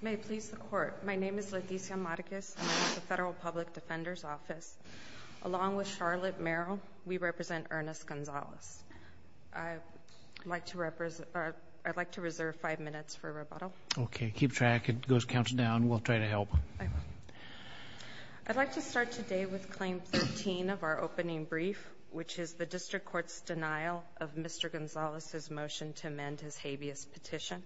May it please the Court, my name is Leticia Marquez and I'm with the Federal Public Defender's Office. Along with Charlotte Merrill, we represent Ernest Gonzales. I'd like to reserve five minutes for rebuttal. Okay, keep track. It goes counting down. We'll try to help. I'd like to start today with Claim 13 of our opening brief, which is the District Court's denial of Mr. Gonzales' motion to amend his habeas petition.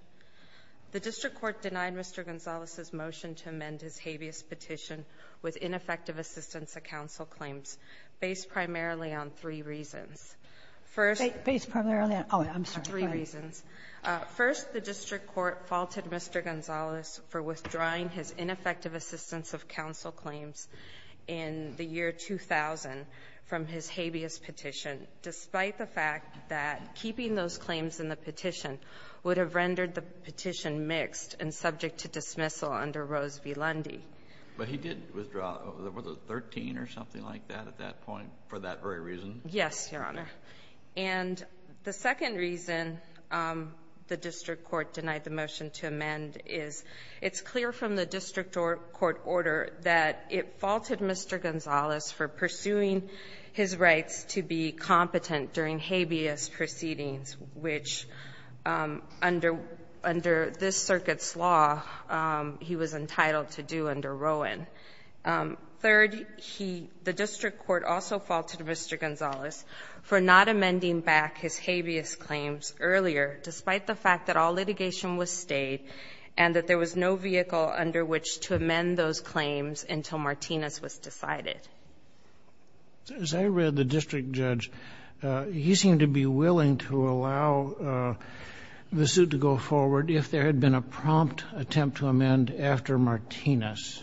The District Court denied Mr. Gonzales' motion to amend his habeas petition with ineffective assistance of counsel claims based primarily on three reasons. Based primarily on three reasons. First, the District Court faulted Mr. Gonzales for withdrawing his ineffective assistance of counsel claims in the year 2000 from his habeas petition, despite the fact that keeping those claims in the petition would have rendered the petition mixed and subject to dismissal under Rose v. Lundy. But he did withdraw, was it 13 or something like that at that point for that very reason? Yes, Your Honor. And the second reason the District Court denied the motion to amend is it's clear from the District Court order that it faulted Mr. Gonzales for pursuing his rights to be competent during habeas proceedings, which under this circuit's law he was entitled to do under Rowan. Third, the District Court also faulted Mr. Gonzales for not amending back his habeas claims earlier, despite the fact that all litigation was stayed and that there was no vehicle under which to amend those claims until Martinez was decided. As I read the district judge, he seemed to be willing to allow the suit to go forward if there had been a prompt attempt to amend after Martinez.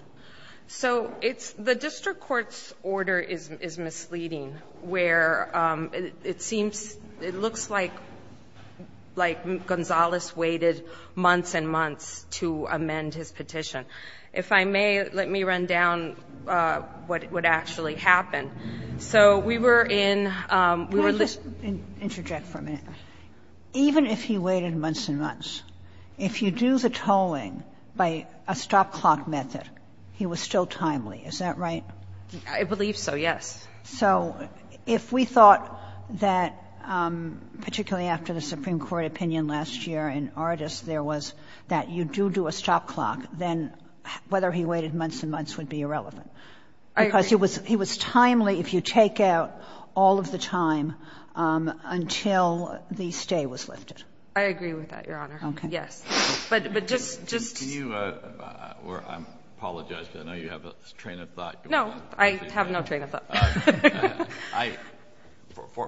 So it's the District Court's order is misleading, where it seems, it looks like Gonzales waited months and months to amend his petition. If I may, let me run down what would actually happen. So we were in the list. Can I just interject for a minute? Even if he waited months and months, if you do the tolling by a stop-clock method, he was still timely, is that right? I believe so, yes. So if we thought that, particularly after the Supreme Court opinion last year in Artis, there was that you do do a stop-clock, then whether he waited months and months would be irrelevant. I agree. Because he was timely if you take out all of the time until the stay was lifted. I agree with that, Your Honor. Okay. Yes. But just to you, or I apologize, because I know you have a train of thought. No, I have no train of thought.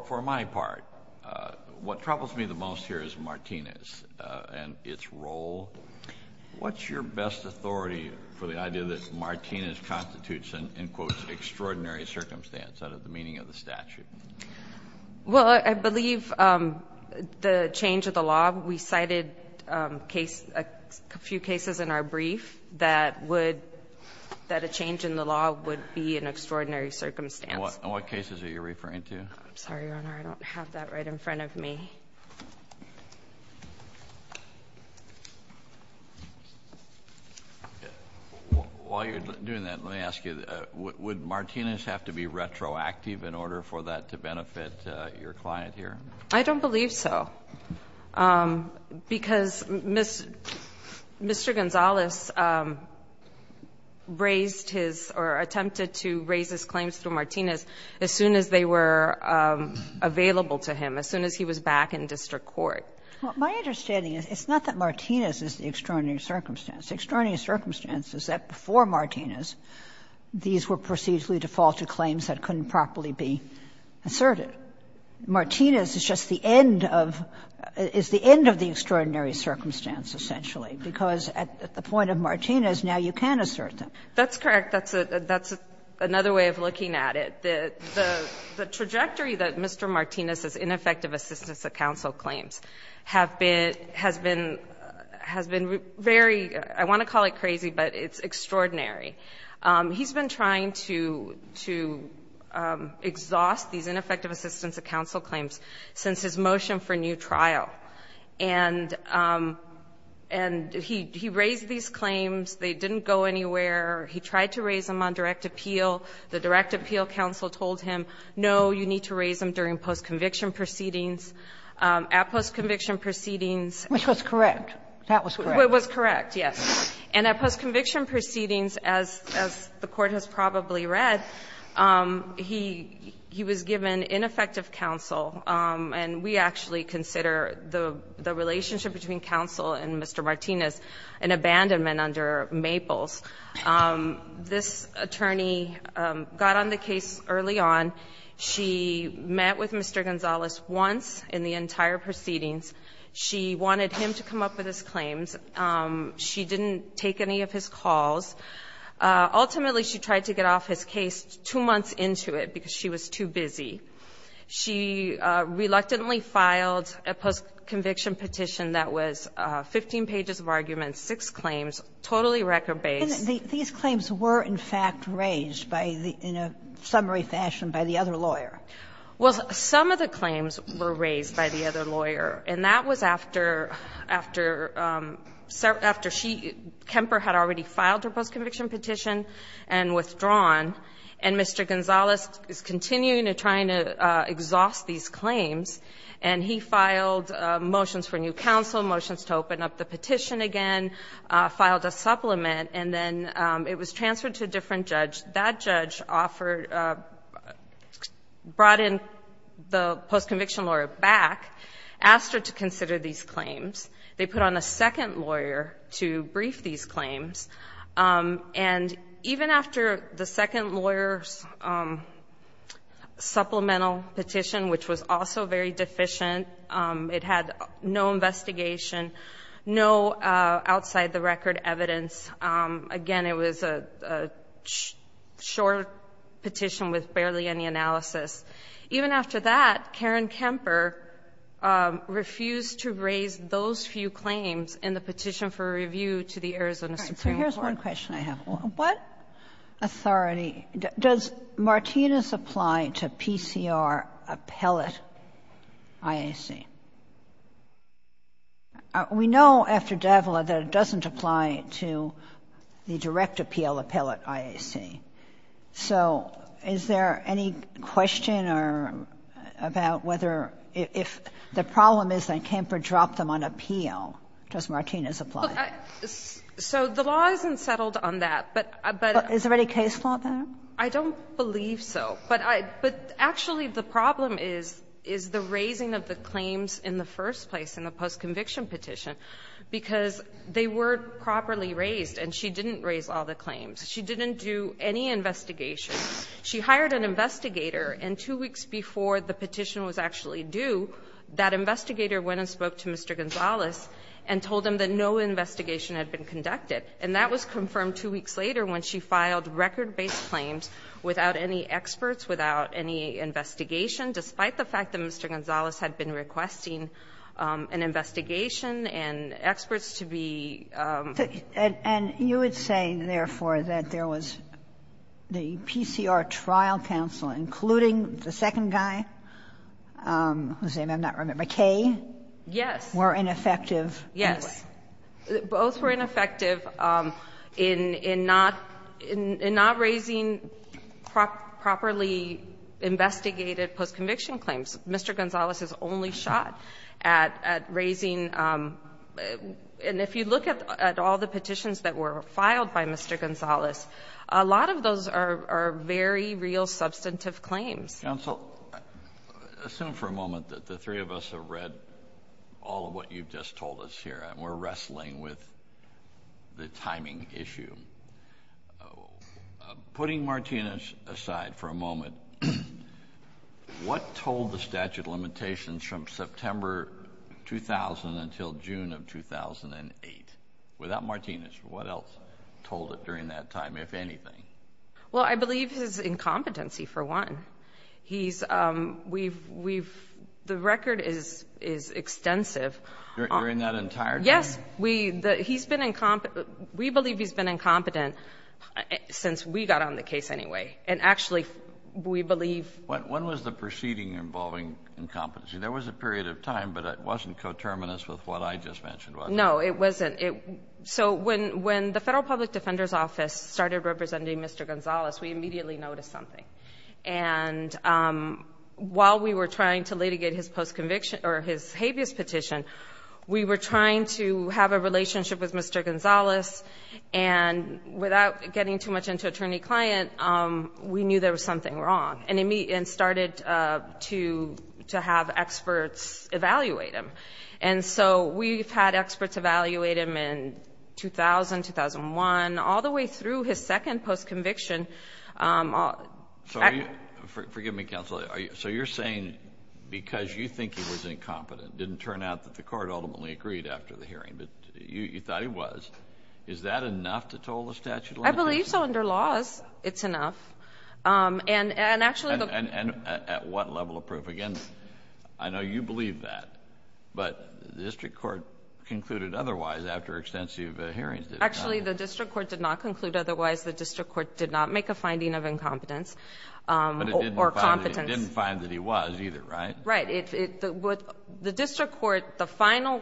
For my part, what troubles me the most here is Martinez and its role. What's your best authority for the idea that Martinez constitutes an extraordinary circumstance out of the meaning of the statute? Well, I believe the change of the law. We cited a few cases in our brief that a change in the law would be an extraordinary circumstance. In what cases are you referring to? I'm sorry, Your Honor. I don't have that right in front of me. While you're doing that, let me ask you, would Martinez have to be retroactive in order for that to benefit your client here? I don't believe so. Because Mr. Gonzales raised his or attempted to raise his claims through Martinez as soon as they were available to him, as soon as he was back in district court. My understanding is it's not that Martinez is the extraordinary circumstance. The extraordinary circumstance is that before Martinez, these were procedurally defaulted claims that couldn't properly be asserted. So Martinez is just the end of the extraordinary circumstance, essentially, because at the point of Martinez, now you can assert them. That's correct. That's another way of looking at it. The trajectory that Mr. Martinez's ineffective assistance of counsel claims has been very, I want to call it crazy, but it's extraordinary. He's been trying to exhaust these ineffective assistance of counsel claims since his motion for new trial. And he raised these claims. They didn't go anywhere. He tried to raise them on direct appeal. The direct appeal counsel told him, no, you need to raise them during post-conviction proceedings, at post-conviction proceedings. Which was correct. That was correct. It was correct, yes. And at post-conviction proceedings, as the Court has probably read, he was given ineffective counsel, and we actually consider the relationship between counsel and Mr. Martinez an abandonment under Maples. This attorney got on the case early on. She met with Mr. Gonzalez once in the entire proceedings. She wanted him to come up with his claims. She didn't take any of his calls. Ultimately, she tried to get off his case two months into it because she was too busy. She reluctantly filed a post-conviction petition that was 15 pages of arguments, six claims, totally record-based. And these claims were, in fact, raised by the, in a summary fashion, by the other lawyer. Well, some of the claims were raised by the other lawyer. And that was after, after, after she, Kemper had already filed her post-conviction petition and withdrawn. And Mr. Gonzalez is continuing to try to exhaust these claims, and he filed motions for new counsel, motions to open up the petition again, filed a supplement, and then it was transferred to a different judge. That judge offered, brought in the post-conviction lawyer back, asked her to consider these claims. They put on a second lawyer to brief these claims. And even after the second lawyer's supplemental petition, which was also very deficient, it had no investigation, no outside-the-record evidence. Again, it was a short petition with barely any analysis. Even after that, Karen Kemper refused to raise those few claims in the petition for review to the Arizona Supreme Court. Kagan. So here's one question I have. What authority, does Martinez apply to PCR appellate IAC? We know after Davila that it doesn't apply to the direct appeal appellate IAC. So is there any question about whether, if the problem is that Kemper dropped them on appeal, does Martinez apply? So the law isn't settled on that. But is there any case law there? I don't believe so. But actually, the problem is, is the raising of the claims in the first place in the post-conviction petition. Because they were properly raised, and she didn't raise all the claims. She didn't do any investigation. She hired an investigator, and two weeks before the petition was actually due, that investigator went and spoke to Mr. Gonzalez and told him that no investigation had been conducted. And that was confirmed two weeks later when she filed record-based claims without any experts, without any investigation, despite the fact that Mr. Gonzalez had been requesting an investigation and experts to be. And you would say, therefore, that there was the PCR trial counsel, including the second guy, whose name I'm not remembering, Kaye? Yes. Were ineffective? Yes. Both were ineffective in not raising properly investigated post-conviction claims. Mr. Gonzalez is only shot at raising. And if you look at all the petitions that were filed by Mr. Gonzalez, a lot of those are very real substantive claims. Counsel, assume for a moment that the three of us have read all of what you've just told us here, and we're wrestling with the timing issue. Putting Martinez aside for a moment, what told the statute of limitations from September 2000 until June of 2008? Without Martinez, what else told it during that time, if anything? Well, I believe his incompetency, for one. The record is extensive. During that entire time? Yes. We believe he's been incompetent since we got on the case anyway. And actually, we believe... When was the proceeding involving incompetency? There was a period of time, but it wasn't coterminous with what I just mentioned, was it? No, it wasn't. So when the Federal Public Defender's Office started representing Mr. Gonzalez, we knew something. While we were trying to litigate his habeas petition, we were trying to have a relationship with Mr. Gonzalez, and without getting too much into attorney-client, we knew there was something wrong, and started to have experts evaluate him. We've had experts evaluate him in 2000, 2001, all the way through his career. Forgive me, counsel. So you're saying because you think he was incompetent, it didn't turn out that the court ultimately agreed after the hearing, but you thought he was. Is that enough to toll the statute of limitations? I believe so. Under laws, it's enough. And actually... And at what level of proof? Again, I know you believe that, but the district court concluded otherwise after extensive hearings. Actually, the district court did not conclude otherwise. The district court did not make a finding of incompetence or competence. But it didn't find that he was either, right? Right. The district court, the final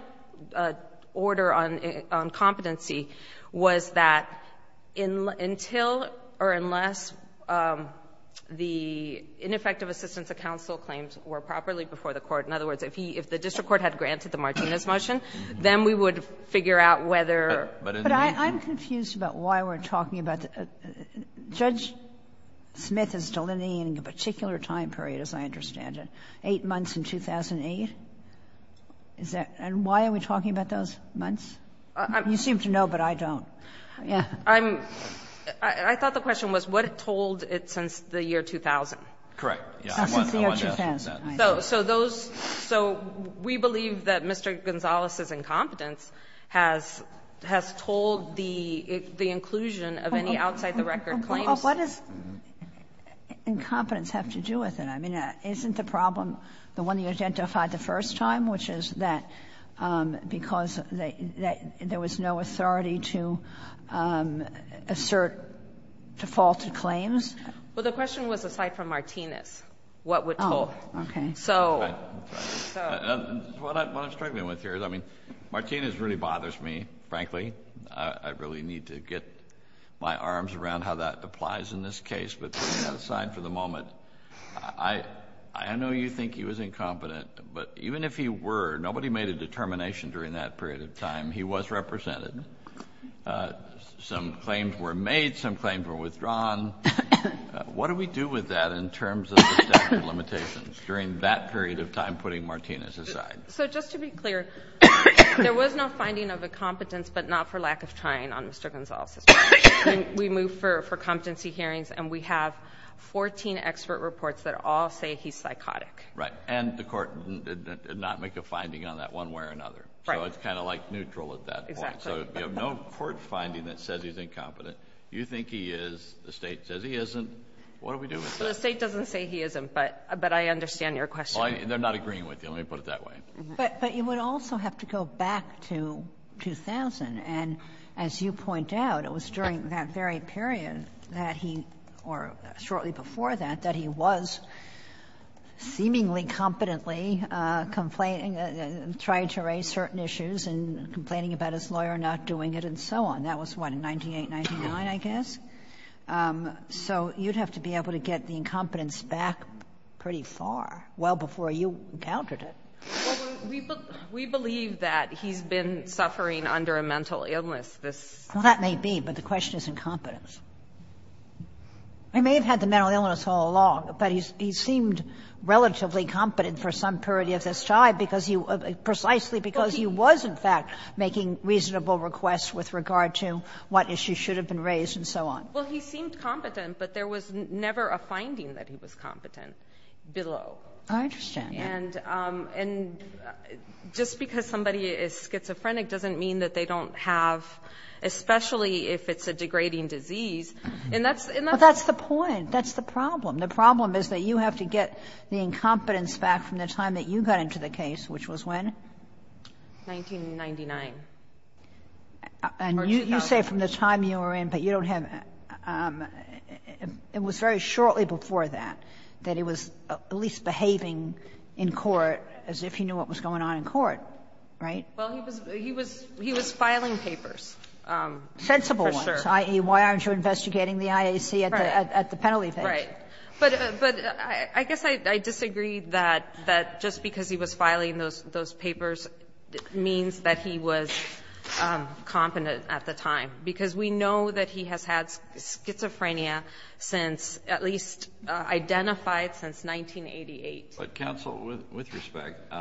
order on competency was that until or unless the ineffective assistance of counsel claims were properly before the court, in other words, if the district court had granted the Martinez motion, then we would figure out whether... But I'm confused about why we're talking about the — Judge Smith is delineating a particular time period, as I understand it, 8 months in 2008? Is that — and why are we talking about those months? You seem to know, but I don't. Yeah. I'm — I thought the question was what it told it since the year 2000. Correct. Since the year 2000. So those — so we believe that Mr. Gonzalez's incompetence has told the inclusion of any outside-the-record claims. Well, what does incompetence have to do with it? I mean, isn't the problem the one you identified the first time, which is that because there was no authority to assert defaulted claims? Well, the question was aside from Martinez. Oh, okay. So... What I'm struggling with here is, I mean, Martinez really bothers me, frankly. I really need to get my arms around how that applies in this case. But putting that aside for the moment, I know you think he was incompetent. But even if he were, nobody made a determination during that period of time. He was represented. Some claims were made. Some claims were withdrawn. What do we do with that in terms of the statute of limitations during that period of time putting Martinez aside? So just to be clear, there was no finding of incompetence, but not for lack of trying, on Mr. Gonzalez's part. We moved for competency hearings, and we have 14 expert reports that all say he's psychotic. Right. And the court did not make a finding on that one way or another. Right. So it's kind of like neutral at that point. Exactly. So you have no court finding that says he's incompetent. You think he is. The state says he isn't. What do we do with that? The state doesn't say he isn't, but I understand your question. They're not agreeing with you. Let me put it that way. But you would also have to go back to 2000, and as you point out, it was during that very period that he, or shortly before that, that he was seemingly competently trying to raise certain issues and complaining about his lawyer not doing it and so on. And that was, what, in 1998, 1999, I guess? So you'd have to be able to get the incompetence back pretty far, well before you encountered it. Well, we believe that he's been suffering under a mental illness this year. Well, that may be, but the question is incompetence. He may have had the mental illness all along, but he seemed relatively competent for some period of his life because he was, precisely because he was, in fact, making reasonable requests with regard to what issues should have been raised and so on. Well, he seemed competent, but there was never a finding that he was competent below. I understand. And just because somebody is schizophrenic doesn't mean that they don't have, especially if it's a degrading disease. Well, that's the point. That's the problem. The problem is that you have to get the incompetence back from the time that you got into the case, which was when? 1999. Or 2000. And you say from the time you were in, but you don't have any. It was very shortly before that, that he was at least behaving in court as if he knew what was going on in court, right? Well, he was filing papers. Sensible ones. For sure. I.e., why aren't you investigating the IAC at the penalty page? Right. But I guess I disagree that just because he was filing those papers means that he was competent at the time, because we know that he has had schizophrenia since, at least identified since 1988. But, counsel, with respect,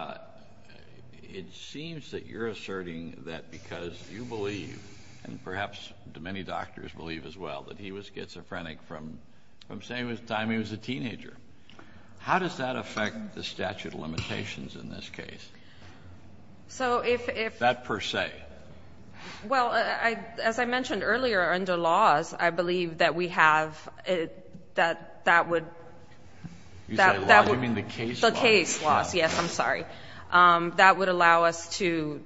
it seems that you're asserting that because you believe and perhaps many doctors believe as well that he was schizophrenic from the same time he was a teenager. How does that affect the statute of limitations in this case? So if. That per se. Well, as I mentioned earlier, under laws, I believe that we have, that would. You said laws? You mean the case laws? The case laws, yes. I'm sorry. That would allow us to,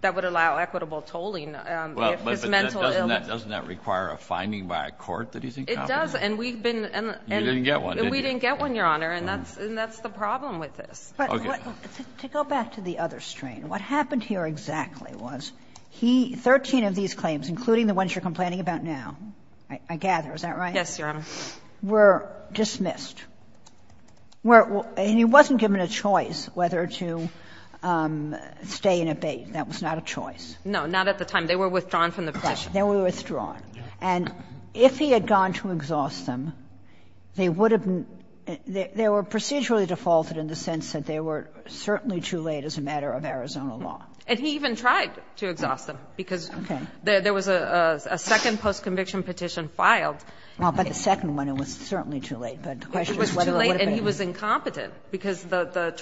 that would allow equitable tolling if his mental illness. But doesn't that require a finding by a court that he's incompetent? It does, and we've been. You didn't get one, did you? We didn't get one, Your Honor, and that's the problem with this. Okay. But to go back to the other strain, what happened here exactly was he, 13 of these claims, including the ones you're complaining about now, I gather, is that right? Yes, Your Honor. Were dismissed. And he wasn't given a choice whether to stay and abate. That was not a choice. No, not at the time. They were withdrawn from the petition. They were withdrawn. And if he had gone to exhaust them, they would have been, they were procedurally defaulted in the sense that they were certainly too late as a matter of Arizona law. And he even tried to exhaust them because there was a second postconviction petition filed. Well, but the second one, it was certainly too late. But the question is whether it would have been. It was too late, and he was incompetent, because the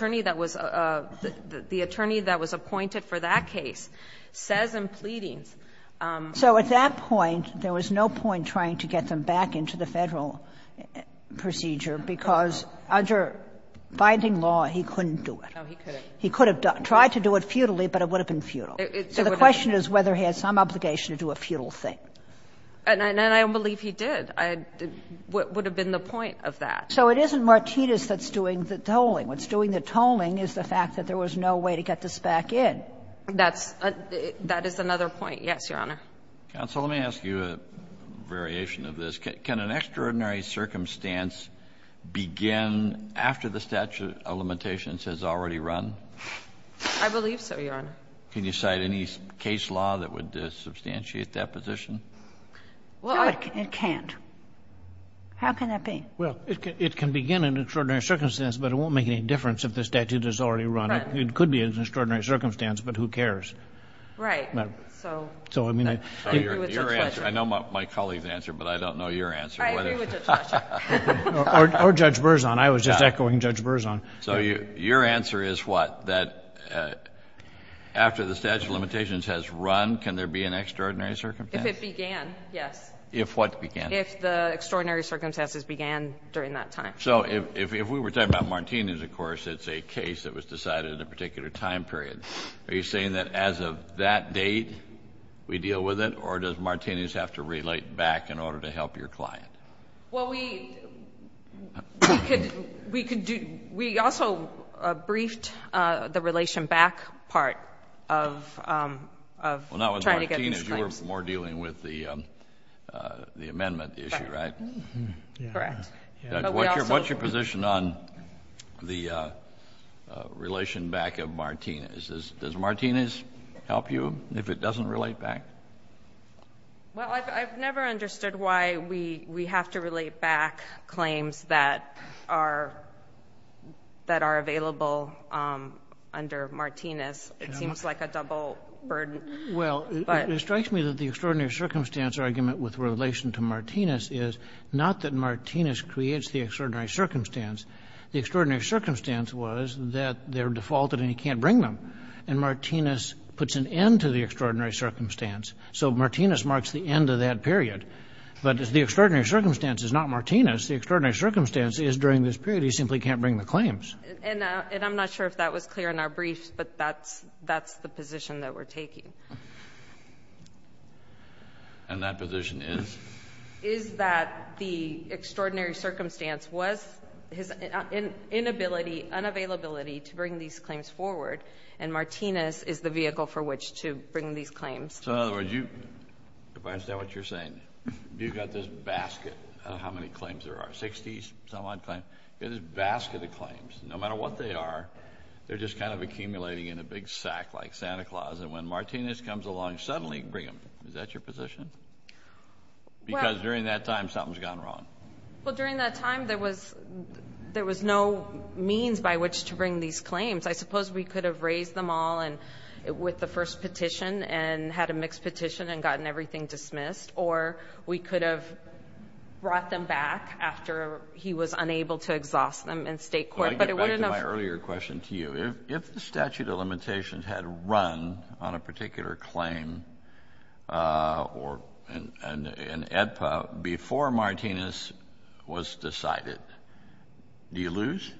attorney that was appointed for that case says in pleadings. So at that point, there was no point trying to get them back into the Federal procedure, because under binding law, he couldn't do it. No, he couldn't. He could have tried to do it futilely, but it would have been futile. So the question is whether he had some obligation to do a futile thing. And I don't believe he did. What would have been the point of that? So it isn't Martinez that's doing the tolling. What's doing the tolling is the fact that there was no way to get this back in. That's another point. Yes, Your Honor. Counsel, let me ask you a variation of this. Can an extraordinary circumstance begin after the statute of limitations has already run? I believe so, Your Honor. Can you cite any case law that would substantiate that position? No, it can't. How can that be? Well, it can begin in an extraordinary circumstance, but it won't make any difference if the statute has already run. It could be in an extraordinary circumstance, but who cares? Right. So I agree with Judge Fletcher. I know my colleague's answer, but I don't know your answer. I agree with Judge Fletcher. Or Judge Berzon. I was just echoing Judge Berzon. So your answer is what? That after the statute of limitations has run, can there be an extraordinary circumstance? If it began, yes. If what began? If the extraordinary circumstances began during that time. So if we were talking about Martinez, of course, it's a case that was decided at a particular time period. Are you saying that as of that date, we deal with it, or does Martinez have to relate back in order to help your client? Well, we could do we also briefed the relation back part of trying to get these claims back. We're dealing with the amendment issue, right? Correct. Correct. What's your position on the relation back of Martinez? Does Martinez help you if it doesn't relate back? Well, I've never understood why we have to relate back claims that are available under Martinez. It seems like a double burden. Well, it strikes me that the extraordinary circumstance argument with relation to Martinez is not that Martinez creates the extraordinary circumstance. The extraordinary circumstance was that they're defaulted and he can't bring them. And Martinez puts an end to the extraordinary circumstance. So Martinez marks the end of that period. But if the extraordinary circumstance is not Martinez, the extraordinary circumstance is during this period he simply can't bring the claims. And I'm not sure if that was clear in our brief, but that's the position that we're taking. And that position is? Is that the extraordinary circumstance was his inability, unavailability to bring these claims forward. And Martinez is the vehicle for which to bring these claims. So in other words, if I understand what you're saying, you've got this basket of how many claims there are, 60-some-odd claims? You've got this basket of claims. No matter what they are, they're just kind of accumulating in a big sack like Santa Claus. And when Martinez comes along, suddenly bring them. Is that your position? Because during that time something's gone wrong. Well, during that time there was no means by which to bring these claims. I suppose we could have raised them all with the first petition and had a mixed petition and gotten everything dismissed. Or we could have brought them back after he was unable to exhaust them in state court. I want to get back to my earlier question to you. If the statute of limitations had run on a particular claim in AEDPA before Martinez was decided, do you lose?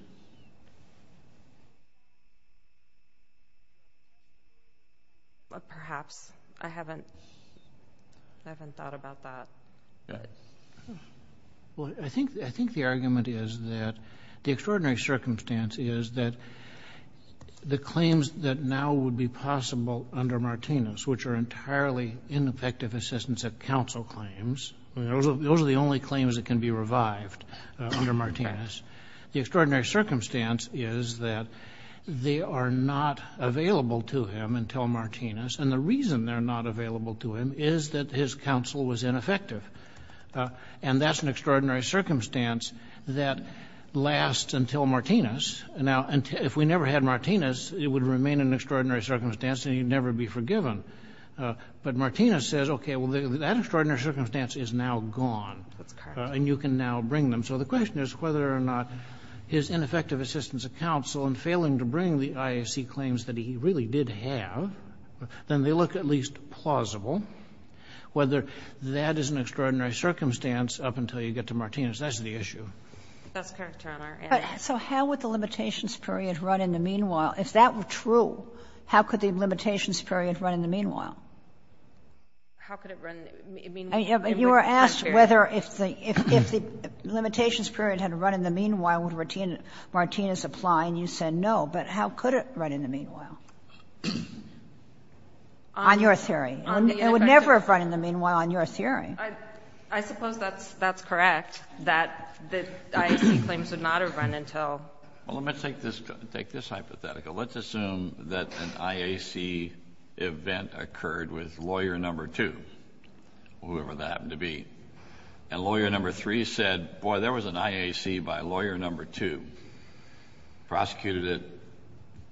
Perhaps. I haven't thought about that. Well, I think the argument is that the extraordinary circumstance is that the claims that now would be possible under Martinez, which are entirely ineffective assistance of counsel claims, those are the only claims that can be revived under Martinez. The extraordinary circumstance is that they are not available to him until Martinez, and the reason they're not available to him is that his counsel was ineffective. And that's an extraordinary circumstance that lasts until Martinez. Now, if we never had Martinez, it would remain an extraordinary circumstance and he'd never be forgiven. But Martinez says, okay, well, that extraordinary circumstance is now gone. That's correct. And you can now bring them. So the question is whether or not his ineffective assistance of counsel in failing to bring the IAC claims that he really did have, then they look at least plausible, whether that is an extraordinary circumstance up until you get to Martinez. That's the issue. That's correct, Your Honor. So how would the limitations period run in the meanwhile? If that were true, how could the limitations period run in the meanwhile? How could it run in the meanwhile? You were asked whether if the limitations period had run in the meanwhile, would Martinez apply, and you said no. But how could it run in the meanwhile? On your theory. It would never have run in the meanwhile on your theory. I suppose that's correct, that the IAC claims would not have run until. Well, let me take this hypothetical. Let's assume that an IAC event occurred with Lawyer No. 2, whoever that happened to be. And Lawyer No. 3 said, boy, there was an IAC by Lawyer No. 2, prosecuted it,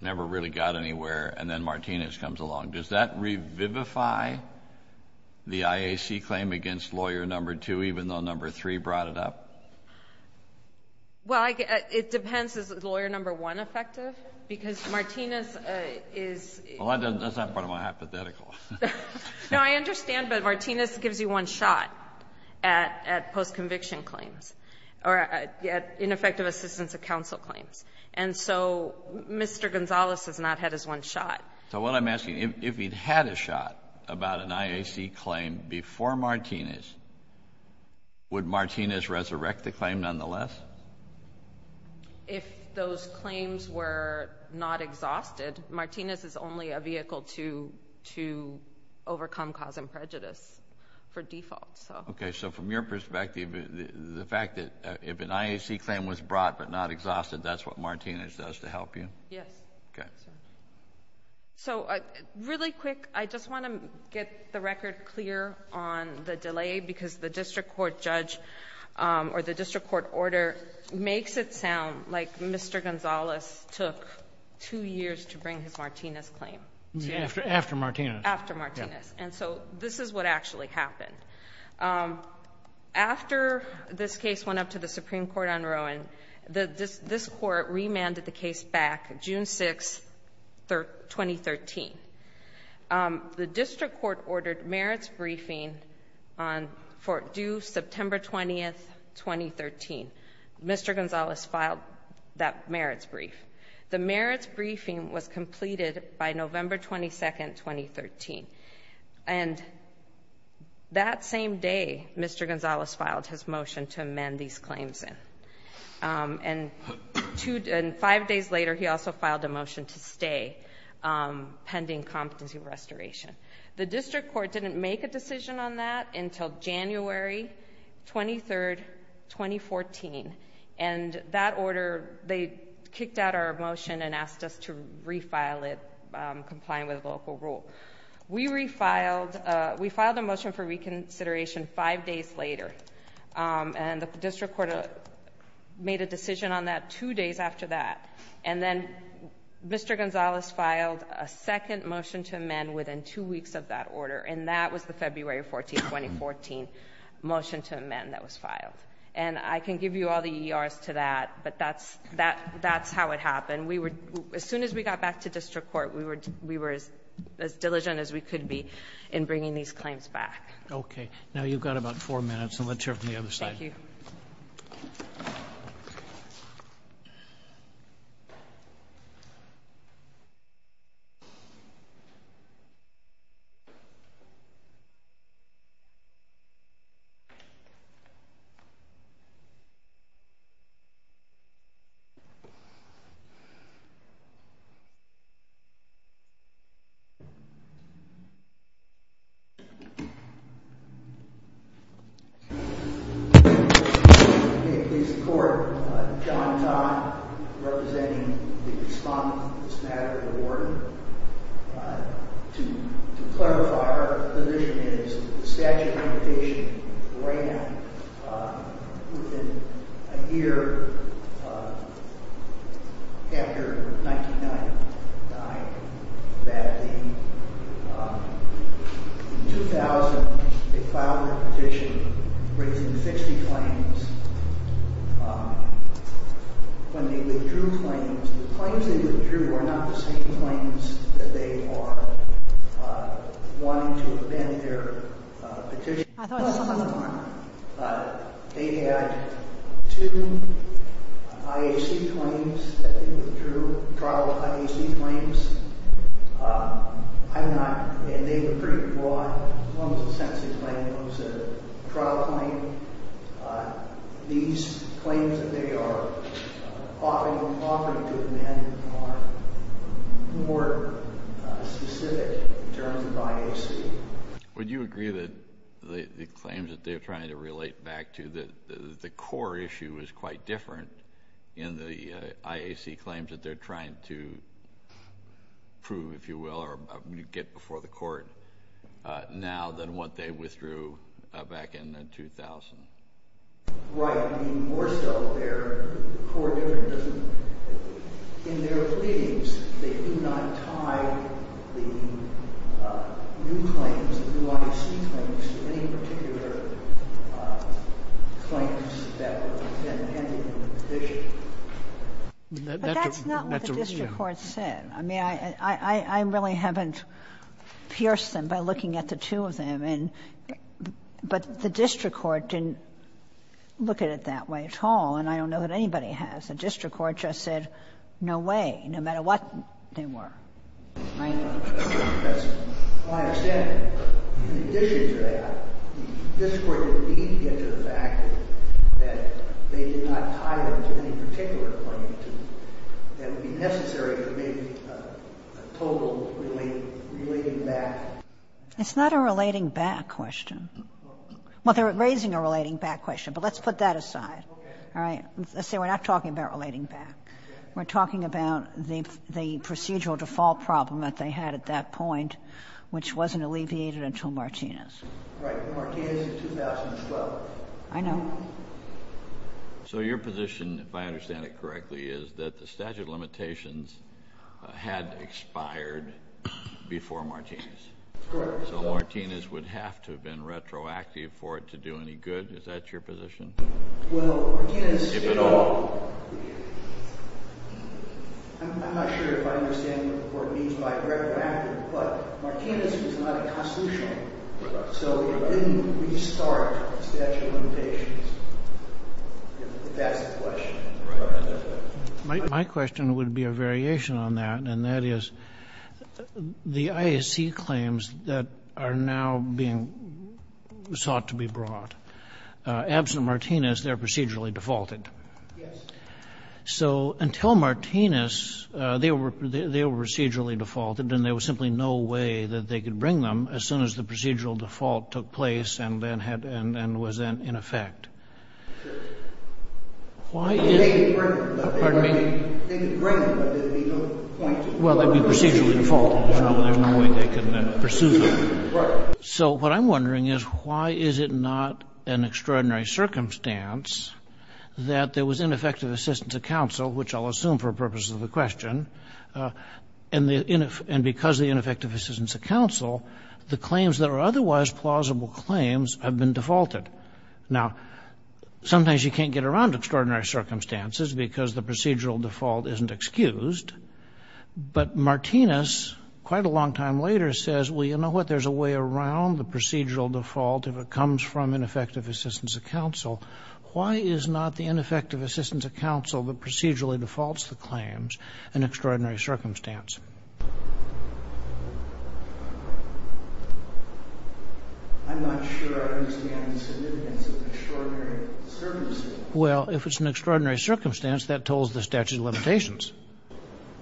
never really got anywhere, and then Martinez comes along. Does that revivify the IAC claim against Lawyer No. 2, even though No. 3 brought it up? Well, it depends. Is Lawyer No. 1 effective? Because Martinez is... Well, that's not part of my hypothetical. No, I understand, but Martinez gives you one shot at post-conviction claims, or ineffective assistance of counsel claims. And so Mr. Gonzalez has not had his one shot. So what I'm asking, if he'd had a shot about an IAC claim before Martinez, would Martinez resurrect the claim nonetheless? If those claims were not exhausted, Martinez is only a vehicle to overcome cause and prejudice for default. Okay, so from your perspective, the fact that if an IAC claim was brought but not exhausted, that's what Martinez does to help you? Yes. Okay. So really quick, I just want to get the record clear on the delay, because the district court judge or the district court order makes it sound like Mr. Gonzalez took two years to bring his Martinez claim. After Martinez. After Martinez. And so this is what actually happened. After this case went up to the Supreme Court on Rowan, this court remanded the case back June 6, 2013. The district court ordered merits briefing due September 20, 2013. Mr. Gonzalez filed that merits brief. The merits briefing was completed by November 22, 2013. And that same day, Mr. Gonzalez filed his motion to amend these claims in. And five days later, he also filed a motion to stay, pending competency restoration. The district court didn't make a decision on that until January 23, 2014. And that order, they kicked out our motion and asked us to refile it, complying with the local rule. We refiled... we filed a motion for reconsideration five days later. And the district court made a decision on that two days after that. And then Mr. Gonzalez filed a second motion to amend within two weeks of that order. And that was the February 14, 2014 motion to amend that was filed. And I can give you all the ERs to that, but that's how it happened. And as soon as we got back to district court, we were as diligent as we could be in bringing these claims back. Okay. Now you've got about four minutes, and let's hear from the other side. Thank you. Thank you. In support, John Todd, representing the respondent in this matter, the warden. To clarify, our position is that the statute of limitation ran within a year after 99 died. That the... in 2000, they filed a petition raising 60 claims. When they withdrew claims, the claims they withdrew were not the same claims that they are wanting to amend their petition. They had two IAC claims that they withdrew, trial IAC claims. I'm not... and they were pretty broad. One was a sentencing claim. One was a trial claim. These claims that they are offering to amend are more specific in terms of IAC. Would you agree that the claims that they're trying to relate back to, the core issue is quite different in the IAC claims that they're trying to prove, if you will, or you get before the Court now than what they withdrew back in 2000? Right. I mean, more so, their core difference is in their pleadings, they do not tie the new claims, the new IAC claims to any particular claims that were intended in the petition. But that's not what the district court said. I mean, I really haven't pierced them by looking at the two of them. But the district court didn't look at it that way at all, and I don't know that anybody has. The district court just said, no way, no matter what they were. Right? That's my understanding. In addition to that, the district court did indeed get to the fact that they did not tie them to any particular claim. That would be necessary for maybe a total relating back. It's not a relating back question. Well, they're raising a relating back question, but let's put that aside. Okay. All right? See, we're not talking about relating back. We're talking about the procedural default problem that they had at that point, which wasn't alleviated until Martinez. Right. Martinez in 2012. I know. So your position, if I understand it correctly, is that the statute of limitations had expired before Martinez. Correct. So Martinez would have to have been retroactive for it to do any good. Is that your position? Well, Martinez did not. If at all. I'm not sure if I understand what the court means by retroactive. Martinez was not a constitutional. So it didn't restart statute of limitations, if that's the question. My question would be a variation on that, and that is the IAC claims that are now being sought to be brought. Absent Martinez, they're procedurally defaulted. Yes. So until Martinez, they were procedurally defaulted, and there was simply no way that they could bring them as soon as the procedural default took place and was then in effect. They could bring them, but they don't point to it. Well, they'd be procedurally defaulted. There's no way they could then pursue them. Right. So what I'm wondering is why is it not an extraordinary circumstance that there was ineffective assistance of counsel, which I'll assume for purposes of the question, and because of the ineffective assistance of counsel, the claims that are otherwise plausible claims have been defaulted. Now, sometimes you can't get around extraordinary circumstances because the procedural default isn't excused, but Martinez quite a long time later says, well, you know what, there's a way around the procedural default if it comes from ineffective assistance of counsel. Why is not the ineffective assistance of counsel that procedurally defaults the claims an extraordinary circumstance? I'm not sure I understand the significance of extraordinary circumstances. Well, if it's an extraordinary circumstance, that tolls the statute of limitations.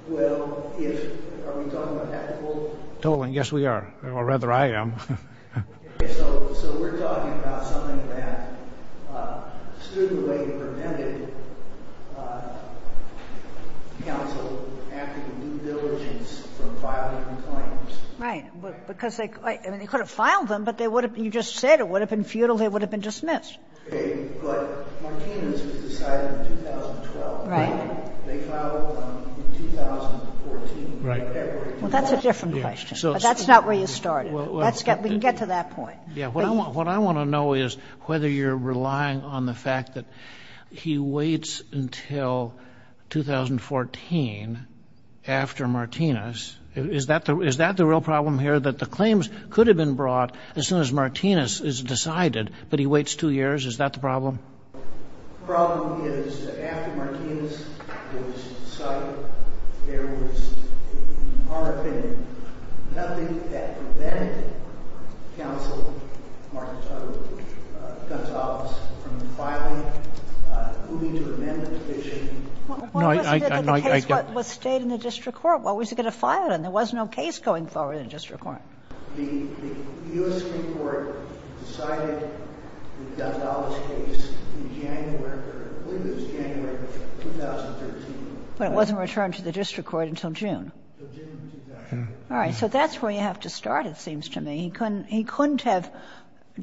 Well, are we talking about that toll? Yes, we are. Or rather, I am. So we're talking about something that stood in the way and prevented counsel after the due diligence from filing the claims. Right. Because they could have filed them, but you just said it would have been futile. They would have been dismissed. Okay. But Martinez was decided in 2012. Right. They filed them in 2014. Right. Well, that's a different question, but that's not where you started. Let's get to that point. Yeah. What I want to know is whether you're relying on the fact that he waits until 2014 after Martinez. Is that the real problem here, that the claims could have been brought as soon as Martinez is decided, but he waits two years? Is that the problem? The problem is that after Martinez was decided, there was, in our opinion, nothing that prevented counsel, Mark Gonzales, from filing, moving to amendment fishing. No, I don't. What was the case that was stayed in the district court? What was he going to file it in? There was no case going forward in the district court. The U.S. Supreme Court decided the Gonzales case in January. I believe it was January of 2013. But it wasn't returned to the district court until June. Until June of 2013. All right. So that's where you have to start, it seems to me. He couldn't have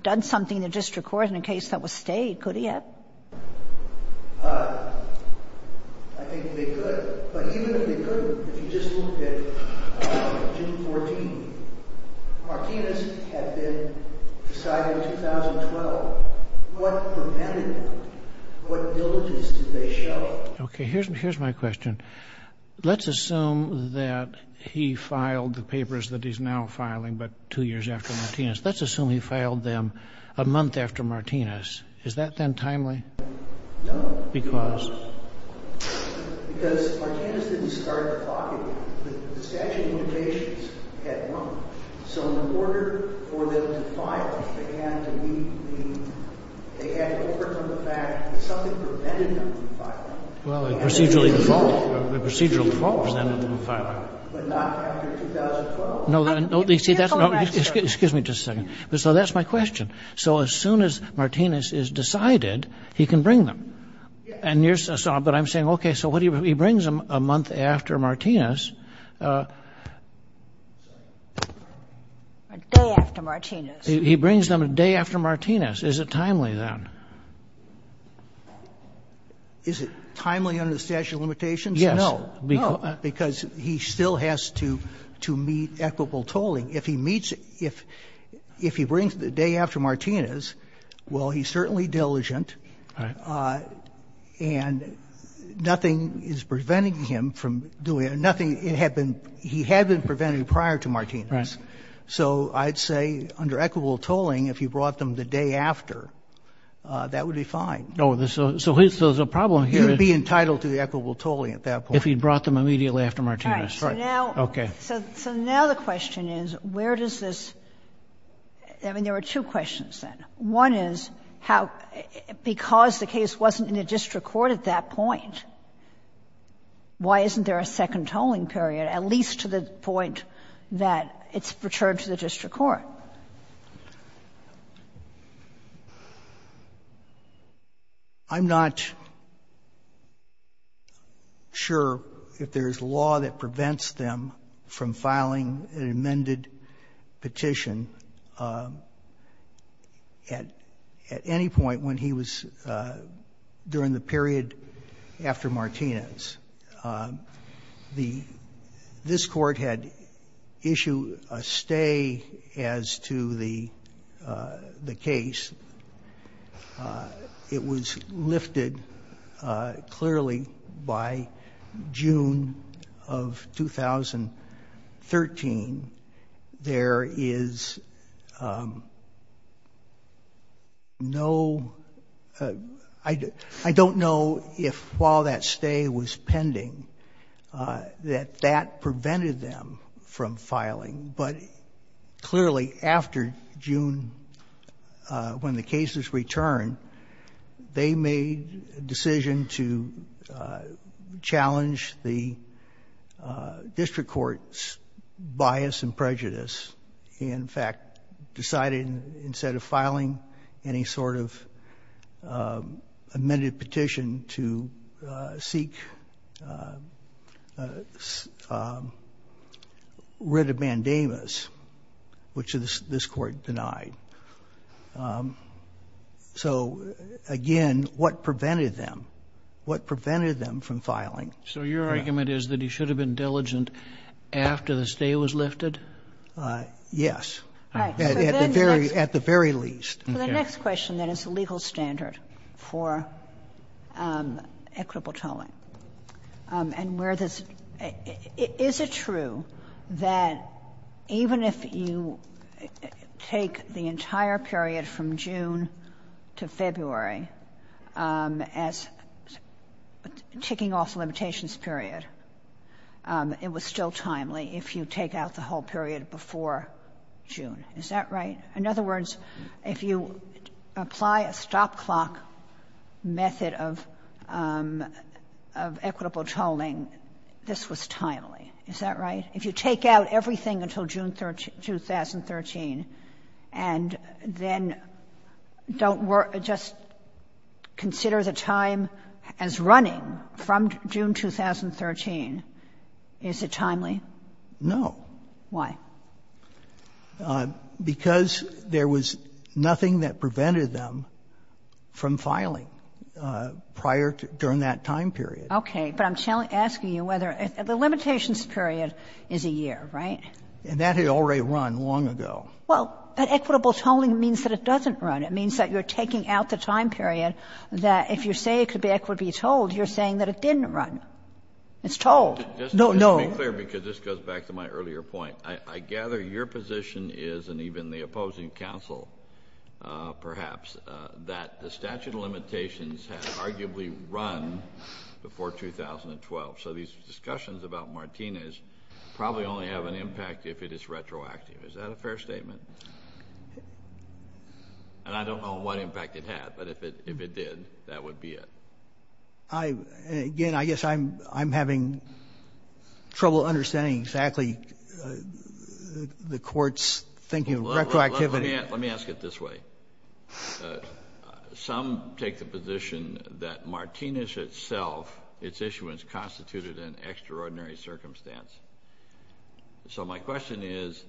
done something in the district court in a case that was stayed, could he have? I think they could. But even if they couldn't, if you just look at June 14, Martinez had been decided in 2012. What prevented that? What diligence did they show? Okay. Here's my question. Let's assume that he filed the papers that he's now filing, but two years after Martinez. Let's assume he filed them a month after Martinez. Is that then timely? No. Because? Because Martinez didn't start the clock again. The statute of limitations had run. So in order for them to file, they had to overcome the fact that something prevented them from filing. Well, a procedural default. A procedural default prevented them from filing. But not after 2012. Excuse me just a second. So that's my question. So as soon as Martinez is decided, he can bring them. But I'm saying, okay, so he brings them a month after Martinez. A day after Martinez. He brings them a day after Martinez. Is it timely then? Is it timely under the statute of limitations? No. Because he still has to meet equitable tolling. If he meets, if he brings the day after Martinez, well, he's certainly diligent. Right. And nothing is preventing him from doing it. Nothing, it had been, he had been prevented prior to Martinez. Right. So I'd say under equitable tolling, if he brought them the day after, that would be fine. So there's a problem here. He would be entitled to equitable tolling at that point. If he brought them immediately after Martinez. Right. Okay. So now the question is, where does this, I mean, there were two questions then. One is how, because the case wasn't in the district court at that point, why isn't there a second tolling period, at least to the point that it's returned to the district court? Well, I'm not sure if there's law that prevents them from filing an amended petition at any point when he was, during the period after Martinez. This court had issued a stay as to the case. It was lifted clearly by June of 2013. There is no, I don't know if while that stay was pending, that that prevented them from filing, but clearly after June, when the cases returned, they made a decision to challenge the district court's bias and prejudice. In fact, decided instead of filing any sort of amended petition to seek writ of mandamus, which this court denied. So again, what prevented them? What prevented them from filing? So your argument is that he should have been diligent after the stay was lifted? Yes. All right. At the very, at the very least. So the next question then is the legal standard for equitable tolling. And where this, is it true that even if you take the entire period from June to February as ticking off limitations period, it was still timely if you take out the whole period before June? Is that right? In other words, if you apply a stop clock method of equitable tolling, this was timely. Is that right? If you take out everything until June 2013 and then don't work, just consider the time as running from June 2013, is it timely? No. Why? Because there was nothing that prevented them from filing prior to, during that time period. Okay. But I'm asking you whether, the limitations period is a year, right? And that had already run long ago. Well, but equitable tolling means that it doesn't run. It means that you're taking out the time period that if you say it could be equitably tolled, you're saying that it didn't run. It's tolled. No, no. Let me be clear because this goes back to my earlier point. I gather your position is, and even the opposing council perhaps, that the statute of limitations had arguably run before 2012. So these discussions about Martinez probably only have an impact if it is retroactive. Is that a fair statement? And I don't know what impact it had, but if it did, that would be it. Again, I guess I'm having trouble understanding exactly the court's thinking of retroactivity. Let me ask it this way. Some take the position that Martinez itself, its issuance constituted an extraordinary circumstance. So my question is,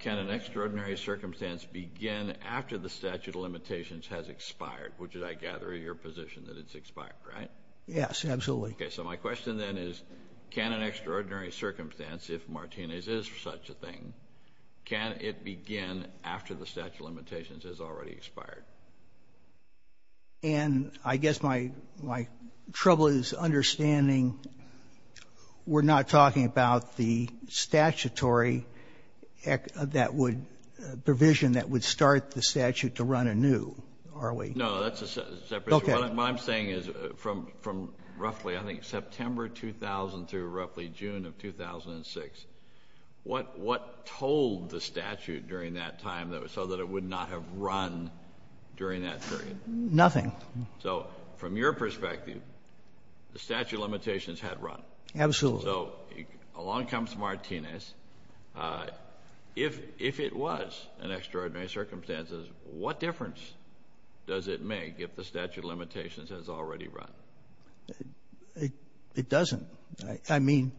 can an extraordinary circumstance begin after the statute of limitations has already expired? Yes, absolutely. Okay. So my question then is, can an extraordinary circumstance, if Martinez is such a thing, can it begin after the statute of limitations has already expired? And I guess my trouble is understanding we're not talking about the statutory provision that would start the statute to run anew, are we? No, that's a separate issue. Okay. What I'm saying is from roughly, I think September 2000 through roughly June of 2006, what told the statute during that time so that it would not have run during that period? Nothing. So from your perspective, the statute of limitations had run. Absolutely. So along comes Martinez. If it was an extraordinary circumstance, what difference does it make if the statute of limitations has already run? It doesn't. I mean,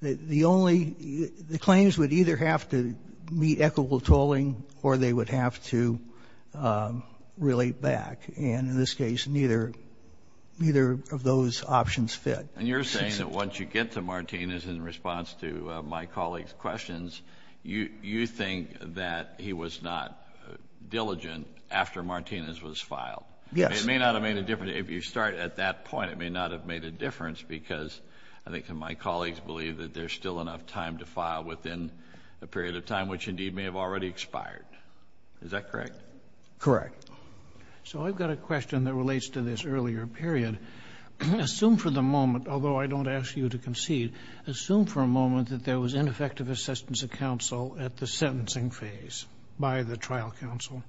the claims would either have to meet equitable tolling or they would have to relate back. And in this case, neither of those options fit. And you're saying that once you get to Martinez, in response to my colleague's questions, you think that he was not diligent after Martinez was filed? Yes. It may not have made a difference. If you start at that point, it may not have made a difference because I think my colleagues believe that there's still enough time to file within a period of time which indeed may have already expired. Is that correct? Correct. So I've got a question that relates to this earlier period. Assume for the moment, although I don't ask you to concede, assume for a moment that there was ineffective assistance of counsel at the sentencing phase by the trial counsel.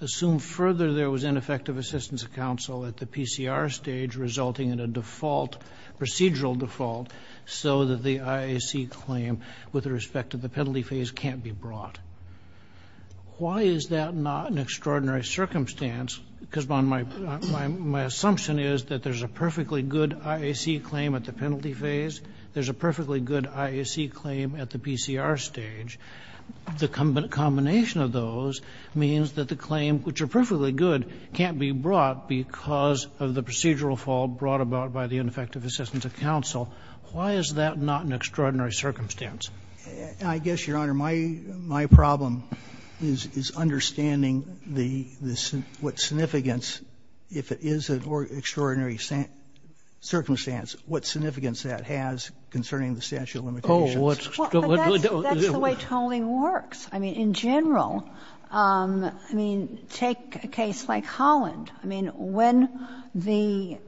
Assume further there was ineffective assistance of counsel at the PCR stage resulting in a default, procedural default, so that the IAC claim with respect to the penalty phase can't be brought. Why is that not an extraordinary circumstance? Because my assumption is that there's a perfectly good IAC claim at the penalty phase, there's a perfectly good IAC claim at the PCR stage. The combination of those means that the claim, which are perfectly good, can't be brought because of the procedural fault brought about by the ineffective assistance of counsel. Why is that not an extraordinary circumstance? I guess, Your Honor, my problem is understanding what significance, if it is an extraordinary circumstance, what significance that has concerning the statute of limitations. Well, that's the way tolling works. I mean, in general, I mean, take a case like Holland. I mean, when the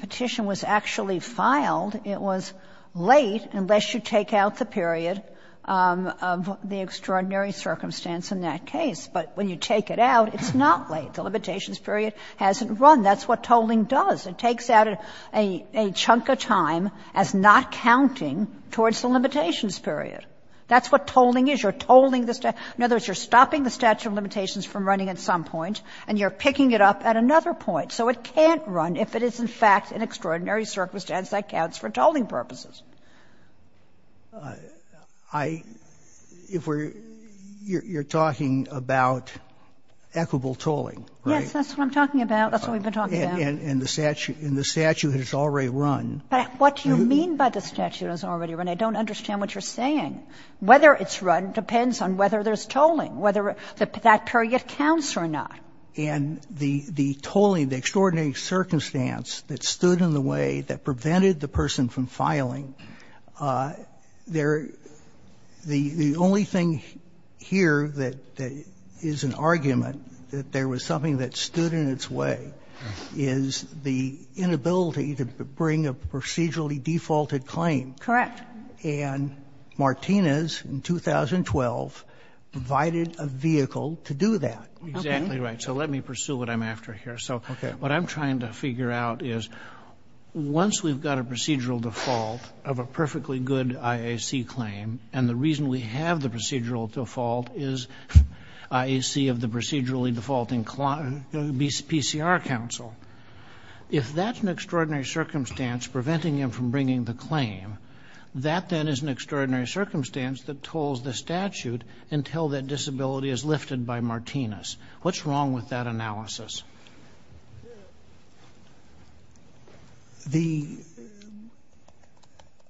petition was actually filed, it was late unless you take out the period of the extraordinary circumstance in that case. But when you take it out, it's not late. The limitations period hasn't run. That's what tolling does. It takes out a chunk of time as not counting towards the limitations period. That's what tolling is. You're tolling the statute. You're taking a measure of limitations from running at some point and you're picking it up at another point. So it can't run if it is, in fact, an extraordinary circumstance that counts for tolling purposes. I — if we're — you're talking about equitable tolling, right? Yes, that's what I'm talking about. That's what we've been talking about. And the statute has already run. But what do you mean by the statute has already run? I don't understand what you're saying. Whether it's run depends on whether there's tolling. Whether that period counts or not. And the tolling, the extraordinary circumstance that stood in the way that prevented the person from filing, there — the only thing here that is an argument that there was something that stood in its way is the inability to bring a procedurally defaulted claim. Correct. And Martinez in 2012 provided a vehicle to do that. Exactly right. So let me pursue what I'm after here. So what I'm trying to figure out is once we've got a procedural default of a perfectly good IAC claim and the reason we have the procedural default is IAC of the procedurally defaulting PCR counsel, if that's an extraordinary circumstance preventing him from bringing the claim, that, then, is an extraordinary circumstance that tolls the statute until that disability is lifted by Martinez. What's wrong with that analysis? The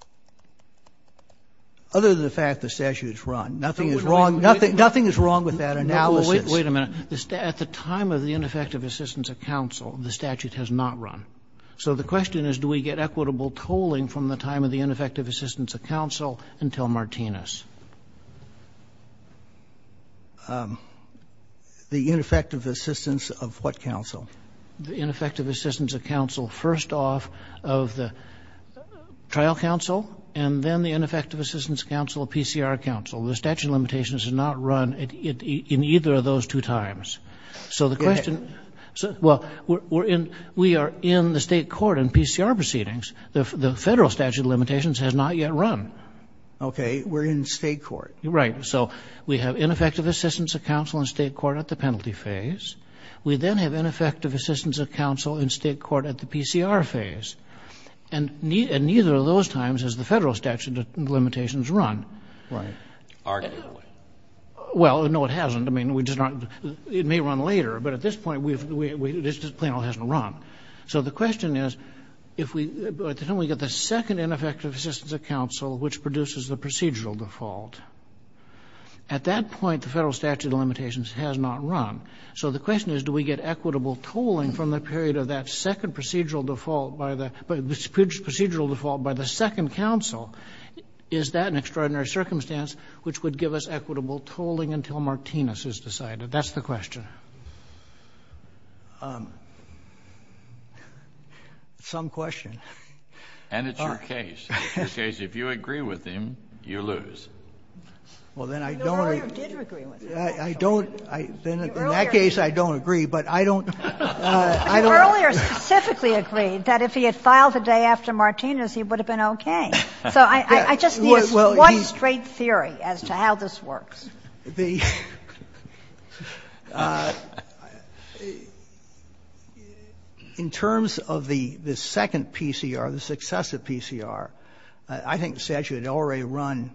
— other than the fact the statute's run, nothing is wrong. Nothing is wrong with that analysis. No, but wait a minute. At the time of the ineffective assistance of counsel, the statute has not run. So the question is do we get equitable tolling from the time of the ineffective assistance of counsel until Martinez? The ineffective assistance of what counsel? The ineffective assistance of counsel first off of the trial counsel and then the ineffective assistance of counsel of PCR counsel. The statute of limitations has not run in either of those two times. So the question — well, we are in the state court in PCR proceedings. The federal statute of limitations has not yet run. Okay. We're in state court. Right. So we have ineffective assistance of counsel in state court at the penalty phase. We then have ineffective assistance of counsel in state court at the PCR phase. And neither of those times has the federal statute of limitations run. Right. Arguably. Well, no, it hasn't. I mean, it may run later. But at this point, the plaintiff hasn't run. So the question is, at the time we get the second ineffective assistance of counsel which produces the procedural default, at that point the federal statute of limitations has not run. So the question is do we get equitable tolling from the period of that second procedural default by the — procedural default by the second counsel? Is that an extraordinary circumstance which would give us equitable tolling until Martinez is decided? That's the question. Some question. And it's your case. It's your case. If you agree with him, you lose. Well, then I don't agree. You earlier did agree with him. I don't. In that case, I don't agree. But I don't — You earlier specifically agreed that if he had filed the day after Martinez, he would have been okay. So I just need a straight theory as to how this works. The — in terms of the second PCR, the successive PCR, I think the statute had already run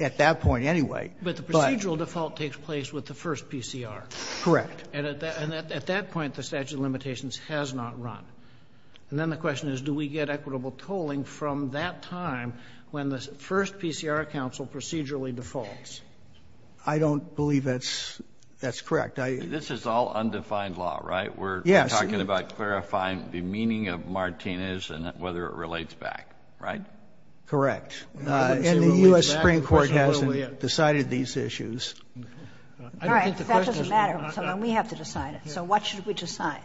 at that point anyway. But the procedural default takes place with the first PCR. Correct. And at that point, the statute of limitations has not run. And then the question is do we get equitable tolling from that time when the first PCR counsel procedurally defaults? I don't believe that's correct. This is all undefined law, right? Yes. We're talking about clarifying the meaning of Martinez and whether it relates back, right? Correct. And the U.S. Supreme Court hasn't decided these issues. All right. That doesn't matter. We have to decide it. So what should we decide?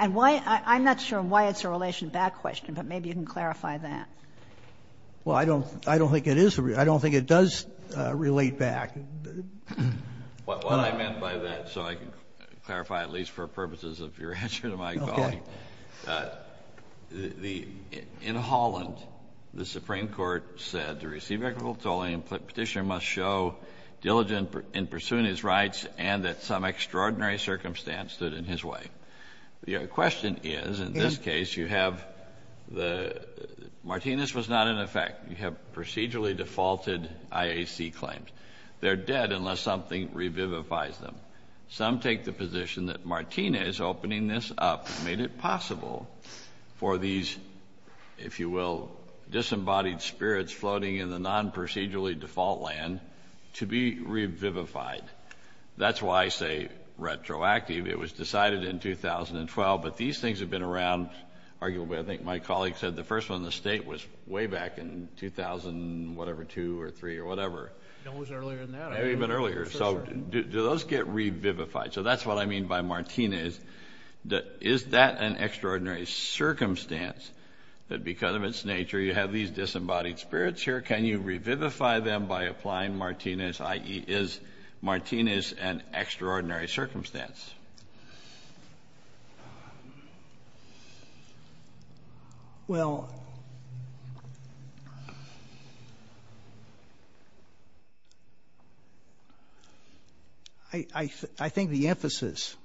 And why — I'm not sure why it's a relation back question, but maybe you can clarify Well, I don't think it is — I don't think it does relate back. What I meant by that, so I can clarify at least for purposes of your answer to my colleague, the — in Holland, the Supreme Court said to receive equitable tolling, a petitioner must show diligent in pursuing his rights and that some extraordinary circumstance stood in his way. Your question is, in this case, you have — Martinez was not in effect. You have procedurally defaulted IAC claims. They're dead unless something revivifies them. Some take the position that Martinez opening this up made it possible for these, if you will, disembodied spirits floating in the non-procedurally default land to be revivified. That's why I say retroactive. It was decided in 2012, but these things have been around arguably. I think my colleague said the first one in the state was way back in 2000, whatever, two or three or whatever. No, it was earlier than that. Maybe even earlier. So do those get revivified? So that's what I mean by Martinez. Is that an extraordinary circumstance that because of its nature you have these disembodied spirits here? Can you revivify them by applying Martinez, i.e., is Martinez an extraordinary circumstance? Well, I think the emphasis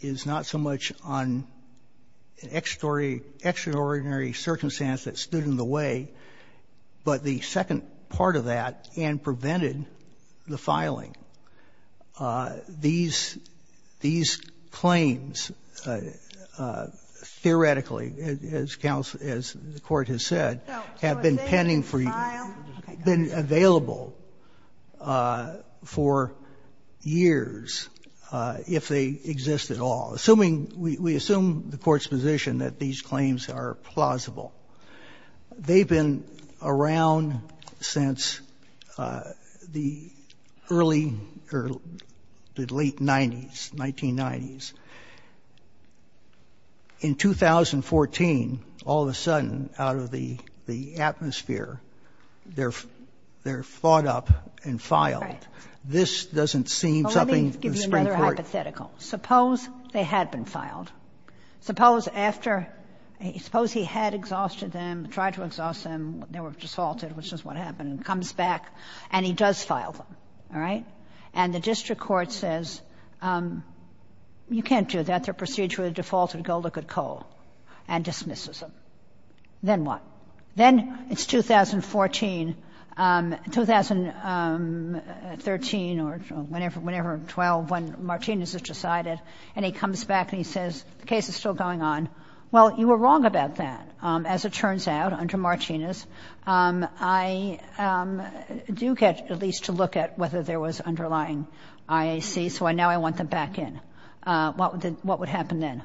is not so much on an extraordinary circumstance that stood in the way, but the second part of that and prevented the filing. These claims theoretically, as the Court has said, have been pending for years, been available for years if they exist at all, assuming we assume the Court's position that these claims are plausible. They've been around since the early or the late 90s, 1990s. In 2014, all of a sudden, out of the atmosphere, they're thought up and filed. This doesn't seem something the Supreme Court — Well, let me give you another hypothetical. Suppose they had been filed. Suppose after — suppose he had exhausted them, tried to exhaust them. They were defaulted, which is what happened. He comes back, and he does file them. All right? And the district court says, you can't do that. They're procedurally defaulted. Go look at Cole, and dismisses him. Then what? Then it's 2014, 2013 or whenever, 12, when Martinez is decided, and he comes back and he says, the case is still going on. Well, you were wrong about that, as it turns out, under Martinez. I do get at least to look at whether there was underlying IAC, so now I want them back in. What would happen then?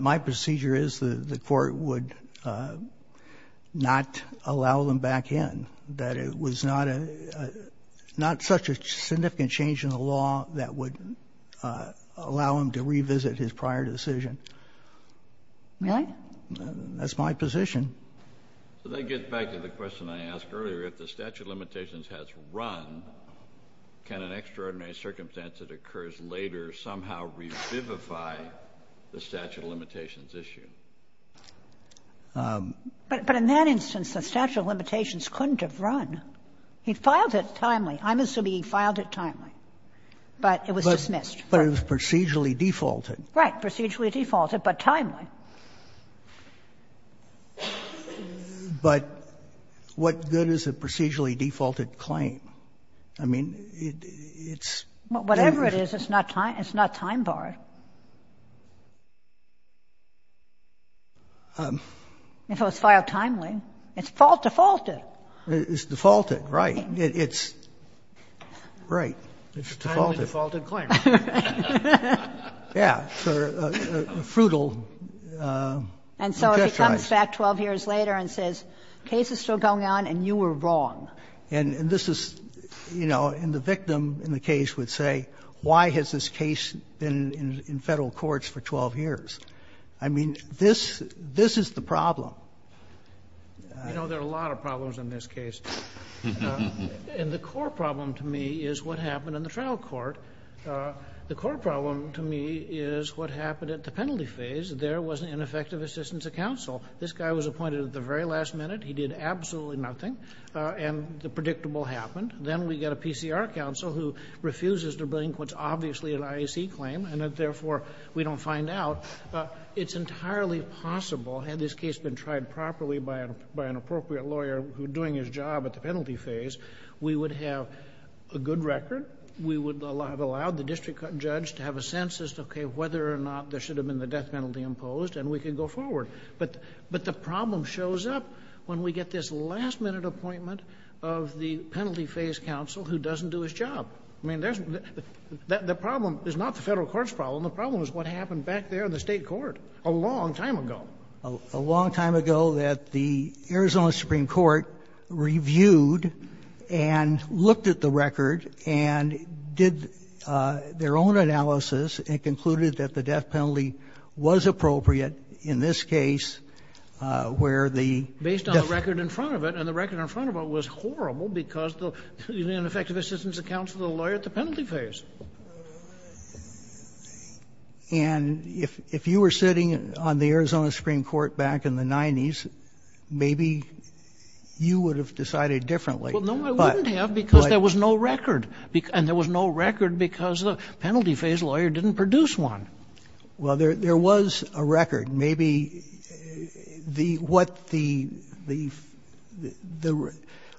My procedure is the Court would not allow them back in, that it was not such a significant change in the law that would allow him to revisit his prior decision. Really? That's my position. Let me get back to the question I asked earlier. If the statute of limitations has run, can an extraordinary circumstance that occurs later somehow revivify the statute of limitations issue? But in that instance, the statute of limitations couldn't have run. He filed it timely. I'm assuming he filed it timely. But it was dismissed. But it was procedurally defaulted. Right. Procedurally defaulted, but timely. But what good is a procedurally defaulted claim? I mean, it's... Whatever it is, it's not time-barred. If it was filed timely, it's defaulted. It's defaulted, right. It's, right, it's defaulted. It's a timely defaulted claim. Yeah. It's a fruitful gesture. And so if he comes back 12 years later and says, the case is still going on and you were wrong. And this is, you know, and the victim in the case would say, why has this case been in Federal courts for 12 years? I mean, this is the problem. You know, there are a lot of problems in this case. And the core problem to me is what happened in the trial court. The core problem to me is what happened at the penalty phase. There was an ineffective assistance of counsel. This guy was appointed at the very last minute. He did absolutely nothing. And the predictable happened. Then we get a PCR counsel who refuses to bring what's obviously an IAC claim, and therefore we don't find out. It's entirely possible, had this case been tried properly by an appropriate lawyer who's doing his job at the penalty phase, we would have a good record. We would have allowed the district judge to have a sense as to, okay, whether or not there should have been the death penalty imposed, and we could go forward. But the problem shows up when we get this last-minute appointment of the penalty phase counsel who doesn't do his job. I mean, the problem is not the Federal court's problem. The problem is what happened back there in the state court a long time ago. A long time ago that the Arizona Supreme Court reviewed and looked at the record and did their own analysis and concluded that the death penalty was appropriate in this case where the death penalty was appropriate. Based on the record in front of it, and the record in front of it was horrible because the ineffective assistance of counsel to the lawyer at the penalty phase. And if you were sitting on the Arizona Supreme Court back in the 90s, maybe you would have decided differently. But. Well, no, I wouldn't have because there was no record. And there was no record because the penalty phase lawyer didn't produce one. Well, there was a record. Maybe the what the,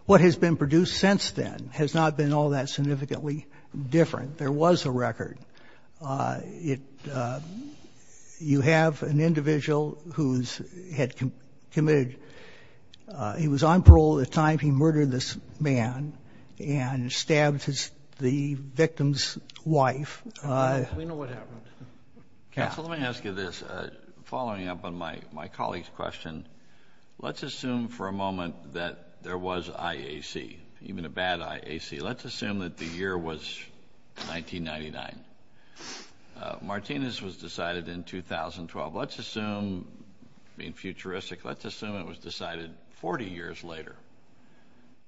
what has been produced since then has not been all that significantly different. There was a record. You have an individual who had committed, he was on parole at the time he murdered this man and stabbed the victim's wife. We know what happened. Counsel, let me ask you this. Following up on my colleague's question, let's assume for a moment that there was IAC, even a bad IAC. Let's assume that the year was 1999. Martinez was decided in 2012. Let's assume, being futuristic, let's assume it was decided 40 years later.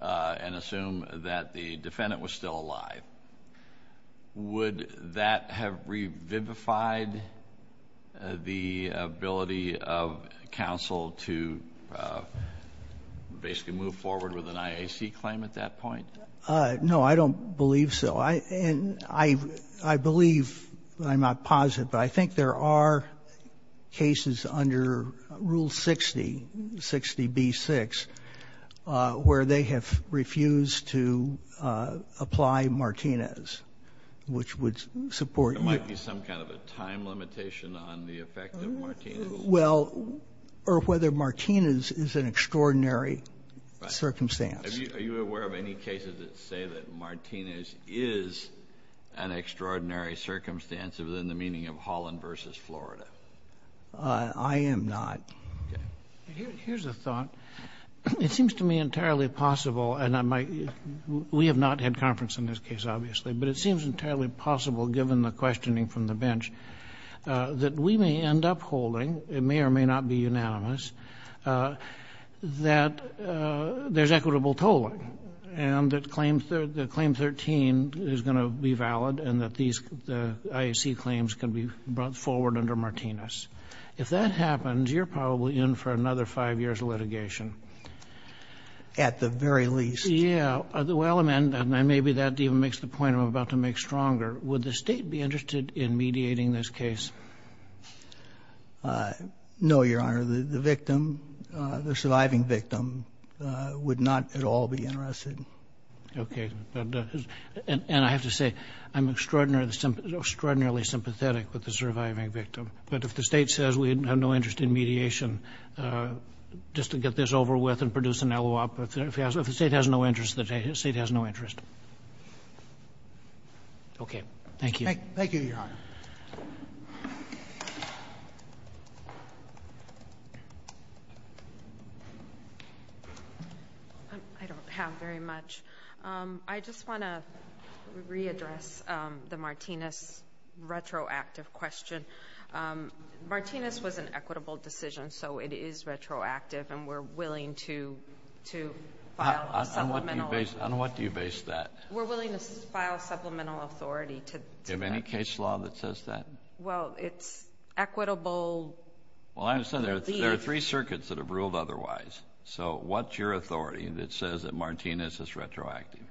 And assume that the defendant was still alive. Would that have revivified the ability of counsel to basically move forward with an IAC claim at that point? No, I don't believe so. And I believe, I'm not positive, but I think there are cases under Rule 60, 60B-6, where they have refused to apply Martinez, which would support you. There might be some kind of a time limitation on the effect of Martinez. Well, or whether Martinez is an extraordinary circumstance. Are you aware of any cases that say that Martinez is an extraordinary circumstance within the meaning of Holland v. Florida? I am not. Here's a thought. It seems to me entirely possible, and we have not had conference in this case, obviously, but it seems entirely possible, given the questioning from the bench, that we may end up holding, it may or may not be unanimous, that there's equitable tolling, and that Claim 13 is going to be valid and that these IAC claims can be brought forward under Martinez. If that happens, you're probably in for another five years of litigation. At the very least. Yeah. Well, maybe that even makes the point I'm about to make stronger. Would the State be interested in mediating this case? No, Your Honor. The victim, the surviving victim, would not at all be interested. Okay. And I have to say, I'm extraordinarily sympathetic with the surviving victim. But if the State says we have no interest in mediation, just to get this over with and produce an LOOP, if the State has no interest, the State has no interest. Okay. Thank you. Thank you, Your Honor. Thank you. I don't have very much. I just want to readdress the Martinez retroactive question. Martinez was an equitable decision, so it is retroactive, and we're willing to file a supplemental. On what do you base that? We're willing to file supplemental authority to that. Do you have any case law that says that? Well, it's equitable relief. Well, I understand there are three circuits that have ruled otherwise. So what's your authority that says that Martinez is retroactive?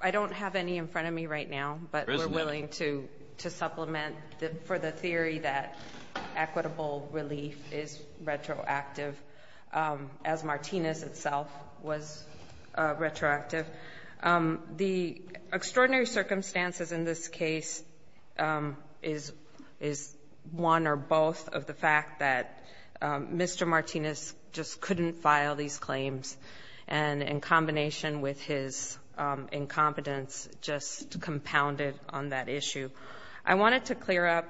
I don't have any in front of me right now, but we're willing to supplement for the theory that equitable relief is retroactive, as Martinez itself was retroactive. The extraordinary circumstances in this case is one or both of the fact that Mr. Martinez just couldn't file these claims, and in combination with his incompetence, just compounded on that issue. I wanted to clear up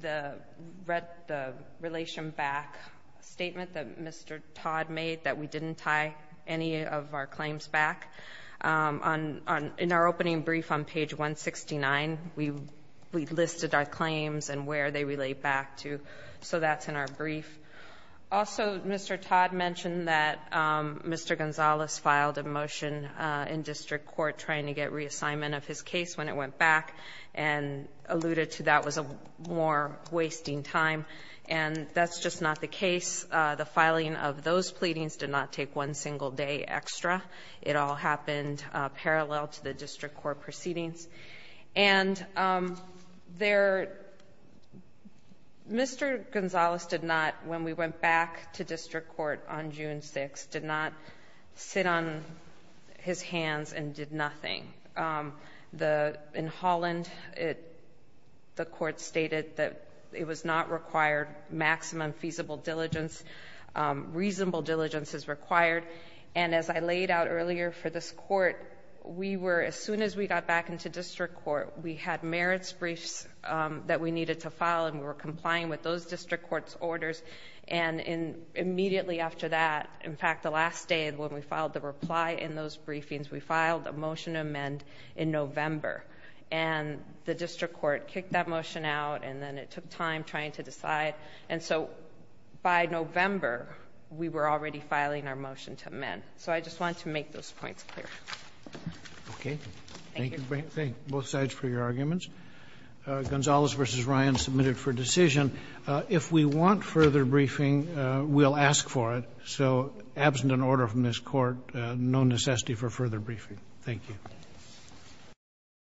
the relation back statement that Mr. Todd made, that we didn't tie any of our claims back. In our opening brief on page 169, we listed our claims and where they relate back to, so that's in our brief. Also, Mr. Todd mentioned that Mr. Gonzalez filed a motion in district court trying to get reassignment of his case when it went back, and alluded to that was a more wasting time, and that's just not the case. The filing of those pleadings did not take one single day extra. It all happened parallel to the district court proceedings. And Mr. Gonzalez did not, when we went back to district court on June 6th, did not sit on his hands and did nothing. In Holland, the court stated that it was not required maximum feasible diligence, reasonable diligence is required, and as I laid out earlier for this court, as soon as we got back into district court, we had merits briefs that we needed to file and we were complying with those district court's orders, and immediately after that, in fact, the last day when we filed the reply in those briefings, we filed a motion to amend in November, and the district court kicked that motion out and then it took time trying to decide. And so by November, we were already filing our motion to amend. So I just wanted to make those points clear. Okay. Thank you both sides for your arguments. Gonzalez v. Ryan submitted for decision. If we want further briefing, we'll ask for it. So absent an order from this court, no necessity for further briefing. Thank you.